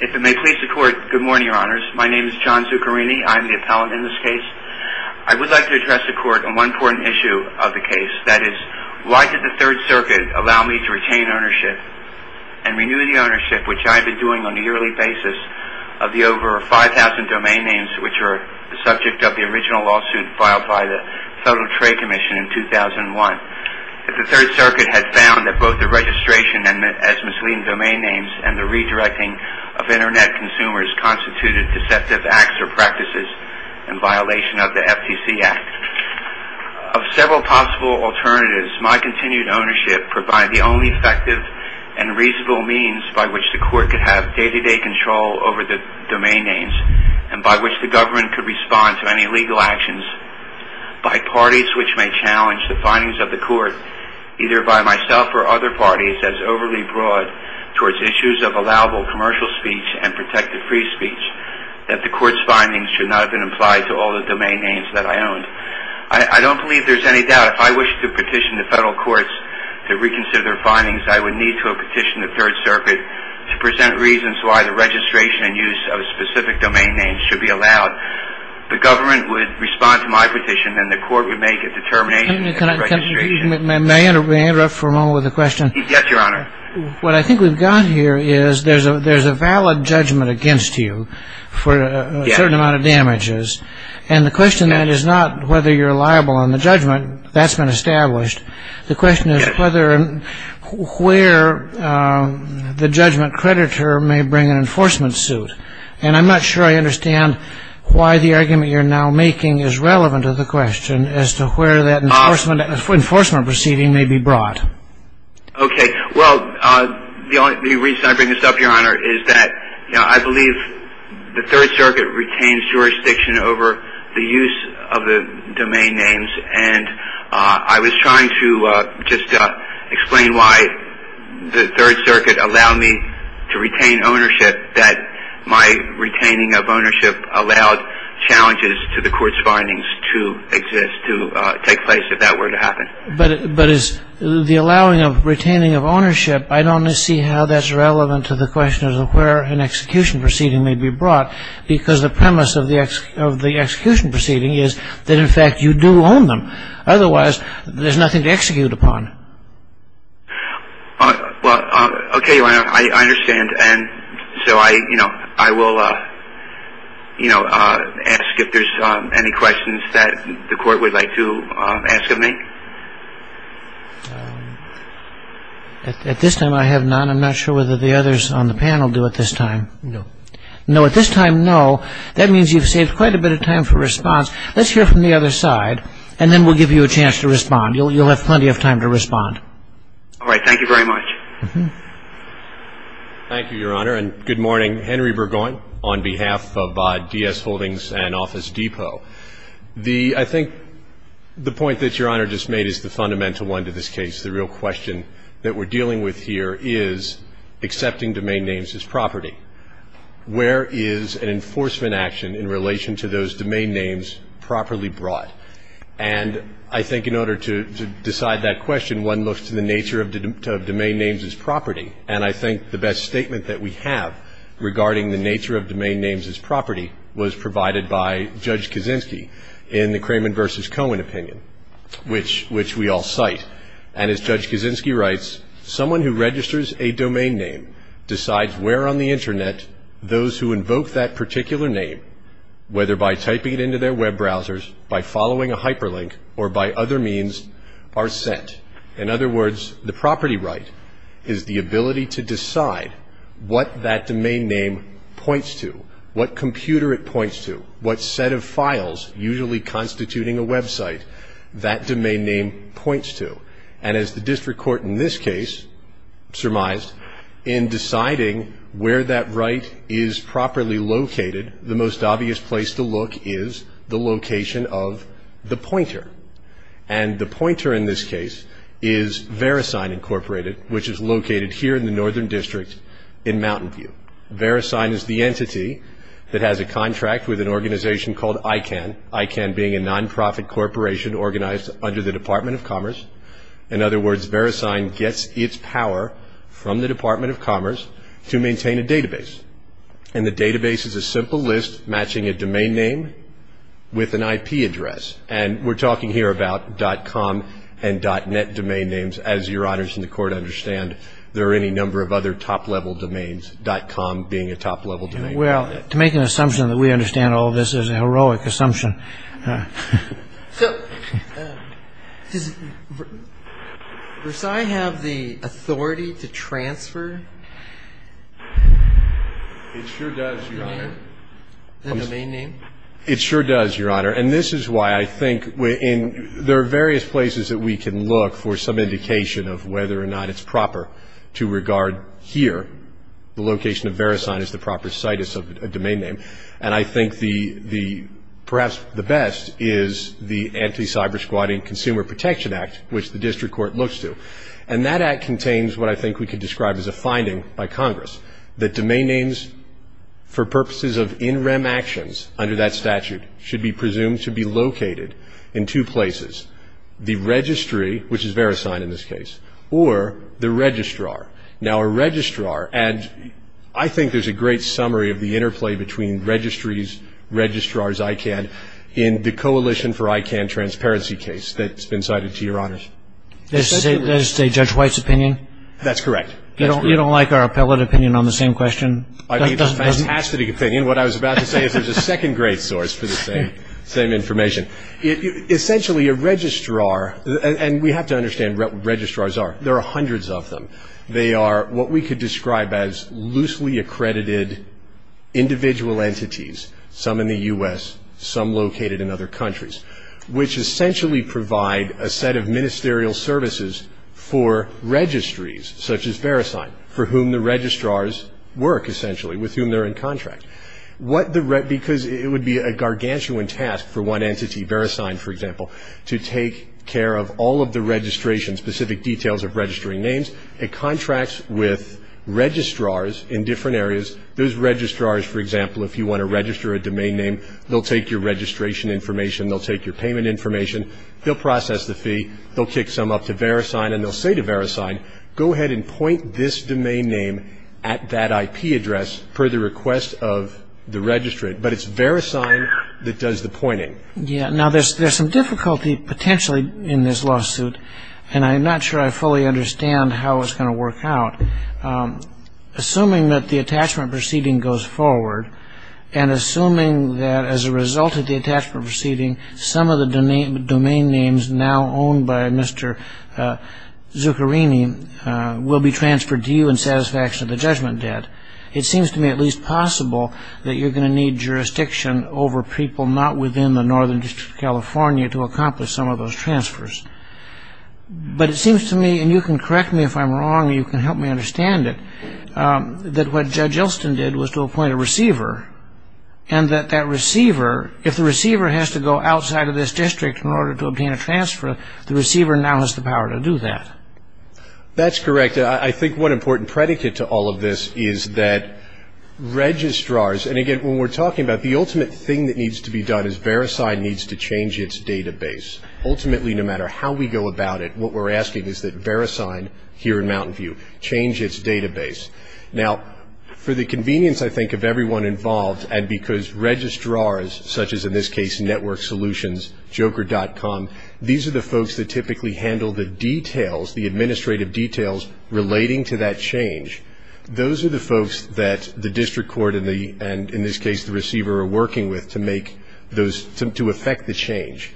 If it may please the court, good morning, your honors. My name is John Zuccarini. I am the appellant in this case. I would like to address the court on one important issue of the case, that is, why did the Third Circuit allow me to retain ownership and renew the ownership, which I have been doing on a yearly basis, of the over 5,000 domain names which are subject of the original lawsuit filed by the Federal Trade Commission in 2001? If the Third Circuit had found that both the registration as misleading domain names and redirecting of Internet consumers constituted deceptive acts or practices in violation of the FTC Act, of several possible alternatives, my continued ownership provided the only effective and reasonable means by which the court could have day-to-day control over the domain names and by which the government could respond to any legal actions by parties which may challenge the findings of the court, either by myself or other parties, as overly broad towards issues of allowable commercial speech and protected free speech, that the court's findings should not have been applied to all the domain names that I owned. I don't believe there's any doubt if I wish to petition the Federal Courts to reconsider their findings, I would need to have petitioned the Third Circuit to present reasons why the registration and use of specific domain names should be allowed. The government would respond to my petition, and the court would make a determination in the registration. May I interrupt for a moment with a question? Yes, your honor. What I think we've got here is there's a valid judgment against you for a certain amount of damages, and the question is not whether you're liable on the judgment, that's been established, the question is whether and where the judgment creditor may bring an enforcement suit, and I'm not sure I understand why the argument you're now making is relevant to the question as to where that enforcement proceeding may be brought. Okay, well, the reason I bring this up, your honor, is that I believe the Third Circuit retains jurisdiction over the use of the domain names, and I was trying to just explain why the Third Circuit allowed me to retain ownership that my retaining of ownership allowed challenges to the court's findings to exist, to take place if that were to happen. But is the allowing of retaining of ownership, I don't see how that's relevant to the question as to where an execution proceeding may be brought, because the premise of the execution proceeding is that, in fact, you do own them. Otherwise, there's nothing to execute upon. Well, okay, your honor, I understand, and so I will ask if there's any questions that the court would like to ask of me. At this time, I have none. I'm not sure whether the others on the panel do at this time. No. No, at this time, no. That means you've saved quite a bit of time for response. Let's hear from the other side, and then we'll give you a chance to respond. You'll have plenty of time to respond. All right, thank you very much. Thank you, your honor, and good morning. Henry Burgoyne on behalf of D.S. Holdings and Office Depot. I think the point that your honor just made is the fundamental one to this case. The real question that we're dealing with here is accepting domain names as property. Where is an enforcement action in relation to those domain names properly brought? And I think in order to decide that question, one looks to the nature of domain names as property, and I think the best statement that we have regarding the nature of domain names as property was provided by Judge Kaczynski in the Cramond versus Cohen opinion, which we all cite. And as Judge Kaczynski writes, someone who registers a domain name decides where on the internet those who invoke that particular name, whether by typing it into their web browsers, by following a hyperlink, or by other means, are sent. In other words, the property right is the ability to decide what that domain name points to, what computer it points to, what set of files, usually constituting a website, that domain name points to. And as the district court in this case surmised, in deciding where that right is properly located, the most obvious place to look is the location of the pointer. And the pointer in this case is VeriSign Incorporated, which is located here in the northern district in Mountain View. VeriSign is the entity that has a contract with an organization called ICANN, ICANN being a non-profit corporation organized under the Department of Commerce. In other words, VeriSign gets its power from the Department of Commerce to maintain a database. And the database is a simple list matching a domain name with an IP address. And we're talking here about .com and .net domain names. As your honors in the court understand, there are any number of other top-level domains, .com being a top-level domain. Well, to make an assumption that we understand all this is a heroic assumption. So, does VeriSign have the authority to transfer? It sure does, your honor. The domain name? It sure does, your honor. And this is why I think there are various places that we can look for some indication of whether or not it's proper to regard here, the location of VeriSign as the proper site of a domain name. And I think perhaps the best is the Anti-Cybersquatting Consumer Protection Act, which the district court looks to. And that act contains what I think we can describe as a finding by Congress, that domain should be presumed to be located in two places, the registry, which is VeriSign in this case, or the registrar. Now, a registrar, and I think there's a great summary of the interplay between registries, registrars, ICANN, in the Coalition for ICANN Transparency case that's been cited to your honors. Does it say Judge White's opinion? That's correct. You don't like our appellate opinion on the same question? I mean, it's a fantastic opinion. What I was about to say is there's a second great source for the same information. Essentially, a registrar, and we have to understand what registrars are. There are hundreds of them. They are what we could describe as loosely accredited individual entities, some in the U.S., some located in other countries, which essentially provide a set of ministerial services for registries, such as VeriSign, for whom the registrars work, essentially, with whom they're in contract. Because it would be a gargantuan task for one entity, VeriSign, for example, to take care of all of the registration, specific details of registering names, it contracts with registrars in different areas. Those registrars, for example, if you want to register a domain name, they'll take your registration information, they'll take your payment information, they'll process the fee, they'll kick some up to VeriSign, and they'll say to VeriSign, go ahead and point this domain name at that IP address per the request of the registrant. But it's VeriSign that does the pointing. Yeah. Now, there's some difficulty, potentially, in this lawsuit, and I'm not sure I fully understand how it's going to work out. Assuming that the attachment proceeding goes forward, and assuming that as a result of the attachment names now owned by Mr. Zuccherini will be transferred to you in satisfaction of the judgment debt, it seems to me at least possible that you're going to need jurisdiction over people not within the Northern District of California to accomplish some of those transfers. But it seems to me, and you can correct me if I'm wrong, you can help me understand it, that what Judge Elston did was to appoint a receiver, and that that receiver, if the receiver has to go outside of this district in order to obtain a transfer, the receiver now has the power to do that. That's correct. I think one important predicate to all of this is that registrars, and again, when we're talking about the ultimate thing that needs to be done is VeriSign needs to change its database. Ultimately, no matter how we go about it, what we're asking is that VeriSign, here in Mountain View, change its database. Now, for the convenience, I think, of everyone involved, and because registrars, such as, in this case, Network Solutions, Joker.com, these are the folks that typically handle the details, the administrative details relating to that change. Those are the folks that the district court and, in this case, the receiver are working with to make those, to affect the change,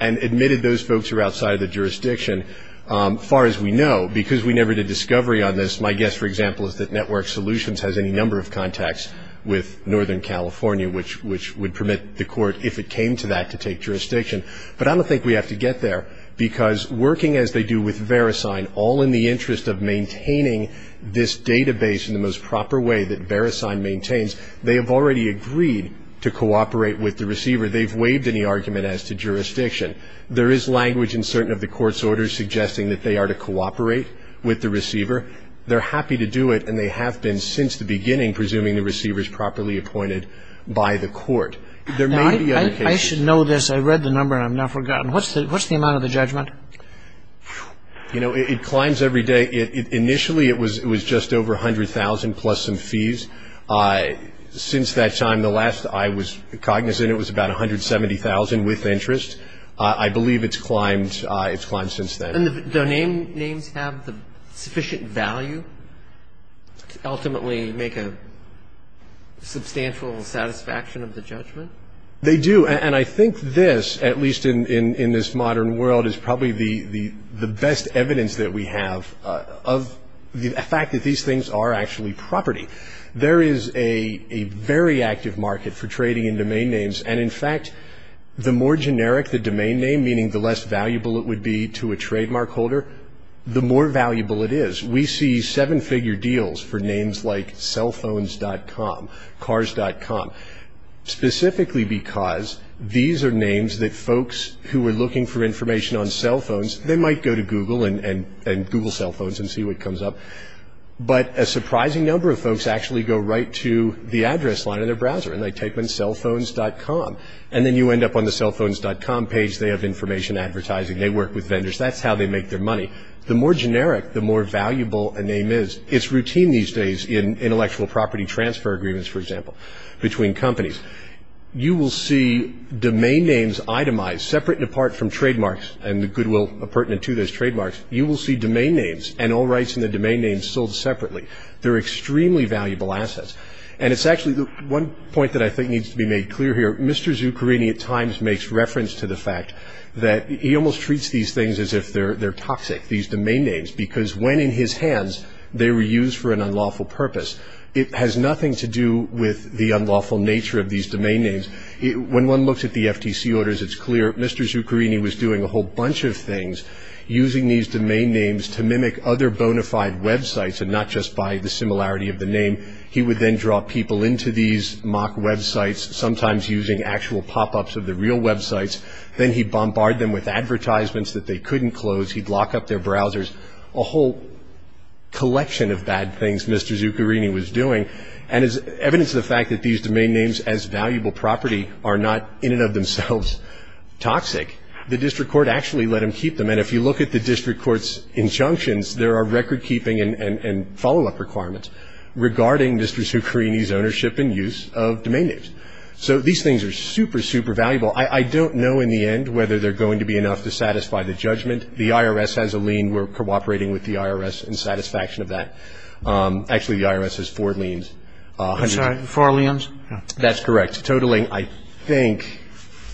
and admitted those folks are outside of the jurisdiction. As far as we know, because we never did discovery on this, my guess, for example, is that Network Solutions has any number of contacts with Northern California, which would permit the court, if it came to that, to take jurisdiction. But I don't think we have to get there, because working as they do with VeriSign, all in the interest of maintaining this database in the most proper way that VeriSign maintains, they have already agreed to cooperate with the receiver. They've waived any argument as to jurisdiction. There is language in certain of the court's orders suggesting that they are to cooperate with the receiver. They're happy to do it, and they have been since the beginning, presuming the receiver is properly appointed by the court. There may be other cases. I should know this. I read the number, and I've now forgotten. What's the amount of the judgment? You know, it climbs every day. Initially, it was just over $100,000 plus some fees. Since that time, the last I was cognizant, it was about $170,000 with interest. I believe it's climbed since then. And the domain names have the sufficient value to ultimately make a substantial satisfaction of the judgment? They do. And I think this, at least in this modern world, is probably the best evidence that we have of the fact that these things are actually property. There is a very active market for trading in domain names. And, in fact, the more the more valuable it is. We see seven-figure deals for names like cellphones.com, cars.com, specifically because these are names that folks who are looking for information on cellphones, they might go to Google and Google cellphones and see what comes up. But a surprising number of folks actually go right to the address line of their browser, and they type in cellphones.com. And then you end up on the cellphones.com page. They have information advertising. They work with companies to make their money. The more generic, the more valuable a name is. It's routine these days in intellectual property transfer agreements, for example, between companies. You will see domain names itemized, separate and apart from trademarks and the goodwill pertinent to those trademarks. You will see domain names and all rights in the domain names sold separately. They're extremely valuable assets. And it's actually the one point that I think needs to be made clear here. Mr. Zuccherini at times makes reference to the fact that he almost treats these things as if they're toxic, these domain names, because when in his hands, they were used for an unlawful purpose. It has nothing to do with the unlawful nature of these domain names. When one looks at the FTC orders, it's clear Mr. Zuccherini was doing a whole bunch of things using these domain names to mimic other bona fide websites and not just by the similarity of the name. He would then draw people into these mock websites, sometimes using actual pop-ups of the real websites. Then he bombarded them with advertisements that they couldn't close. He'd lock up their browsers. A whole collection of bad things Mr. Zuccherini was doing. And as evidence of the fact that these domain names as valuable property are not in and of themselves toxic, the district court actually let him keep them. And if you look at the district court's injunctions, there are record keeping and follow-up requirements regarding Mr. Zuccherini's ownership and use of domain names. So these things are super, super valuable. I don't know in the end whether they're going to be enough to satisfy the judgment. The IRS has a lien. We're cooperating with the IRS in satisfaction of that. Actually, the IRS has four liens. I'm sorry, four liens? That's correct. Totaling, I think,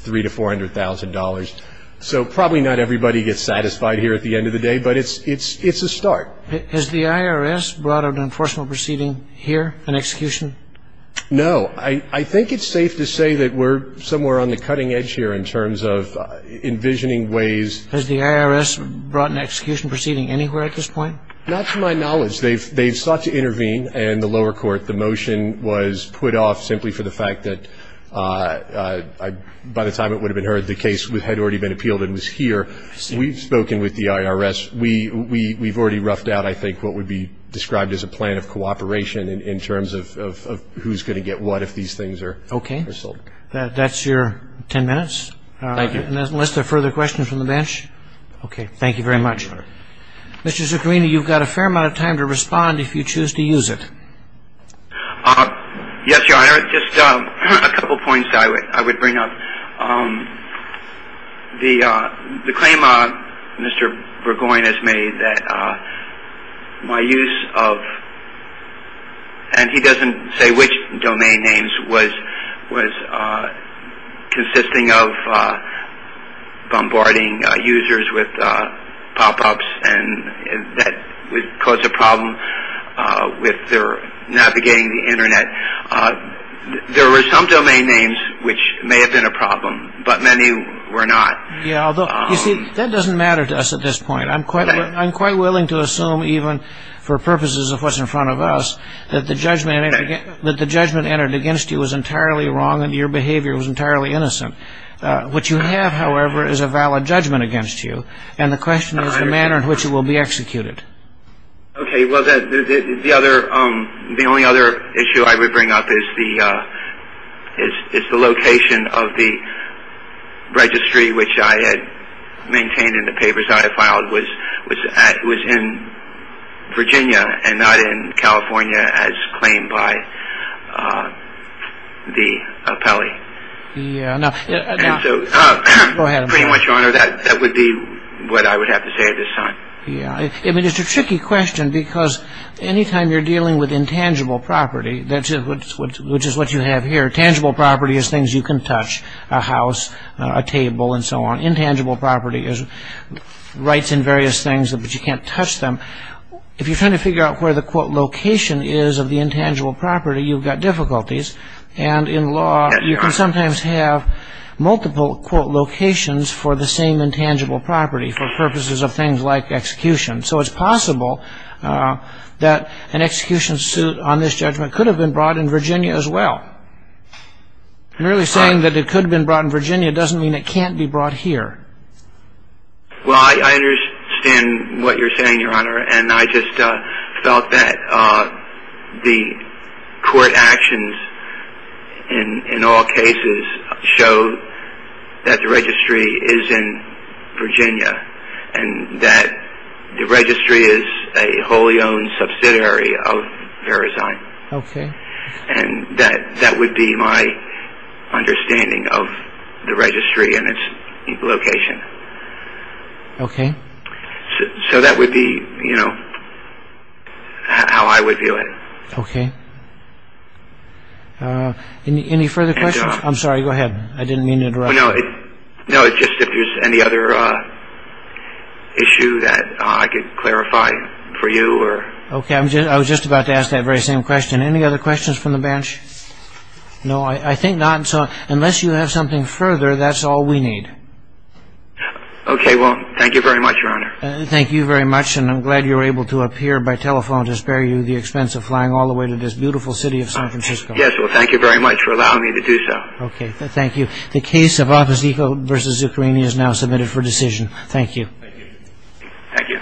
$300,000 to $400,000. So probably not everybody gets satisfied here at the end of the day, but it's a start. Has the IRS brought an unfortunate proceeding here, an execution? No. I think it's safe to say that we're somewhere on the cutting edge here in terms of envisioning ways. Has the IRS brought an execution proceeding anywhere at this point? Not to my knowledge. They've sought to intervene in the lower court. The motion was put off simply for the fact that by the time it would have been heard, the case had already been appealed and was here. We've spoken with the IRS. We've already roughed out, I think, what would be described as a plan of cooperation in terms of who's going to get what if these things are sold. That's your ten minutes? Thank you. Unless there are further questions from the bench? Okay. Thank you very much. Thank you, Your Honor. Mr. Zuccarini, you've got a fair amount of time to respond if you choose to use it. Yes, Your Honor. Just a couple points I would bring up. The claim Mr. Zuccarini made consisting of bombarding users with pop-ups and that would cause a problem with their navigating the Internet. There were some domain names which may have been a problem, but many were not. Yes, although, you see, that doesn't matter to us at this point. I'm quite willing to assume even for purposes of what's in front of us that the behavior was entirely innocent. What you have, however, is a valid judgment against you, and the question is the manner in which it will be executed. Okay. The only other issue I would bring up is the location of the registry which I had maintained in the papers I had filed was in Virginia and not in Detroit. Yes. And so, pretty much, Your Honor, that would be what I would have to say at this time. Yes. I mean, it's a tricky question because any time you're dealing with intangible property, which is what you have here, tangible property is things you can touch, a house, a table, and so on. Intangible property is rights in various things, but you can't touch them. If you're trying to figure out where the, quote, location is of the intangible property, you've got difficulties. And in law, you can sometimes have multiple, quote, locations for the same intangible property for purposes of things like execution. So it's possible that an execution suit on this judgment could have been brought in Virginia as well. And really saying that it could have been brought in Virginia doesn't mean it can't be brought here. Well, I understand what you're saying, Your Honor, and I just felt that the court actions in all cases show that the registry is in Virginia and that the registry is a wholly owned subsidiary of VeriZyne. Okay. And that would be my understanding of the registry and its location. Okay. So that would be, you know, how I would view it. Okay. Any further questions? I'm sorry, go ahead. I didn't mean to interrupt. No, it's just if there's any other issue that I could clarify for you or... Okay. I was just about to ask that very same question. Any other questions from the bench? No, I think not. Unless you have something further, that's all we need. Okay. Well, thank you very much, Your Honor. Thank you very much, and I'm glad you were able to appear by telephone to the expense of flying all the way to this beautiful city of San Francisco. Yes. Well, thank you very much for allowing me to do so. Okay. Thank you. The case of Opposito vs. Zuccherini is now submitted for decision. Thank you. Thank you.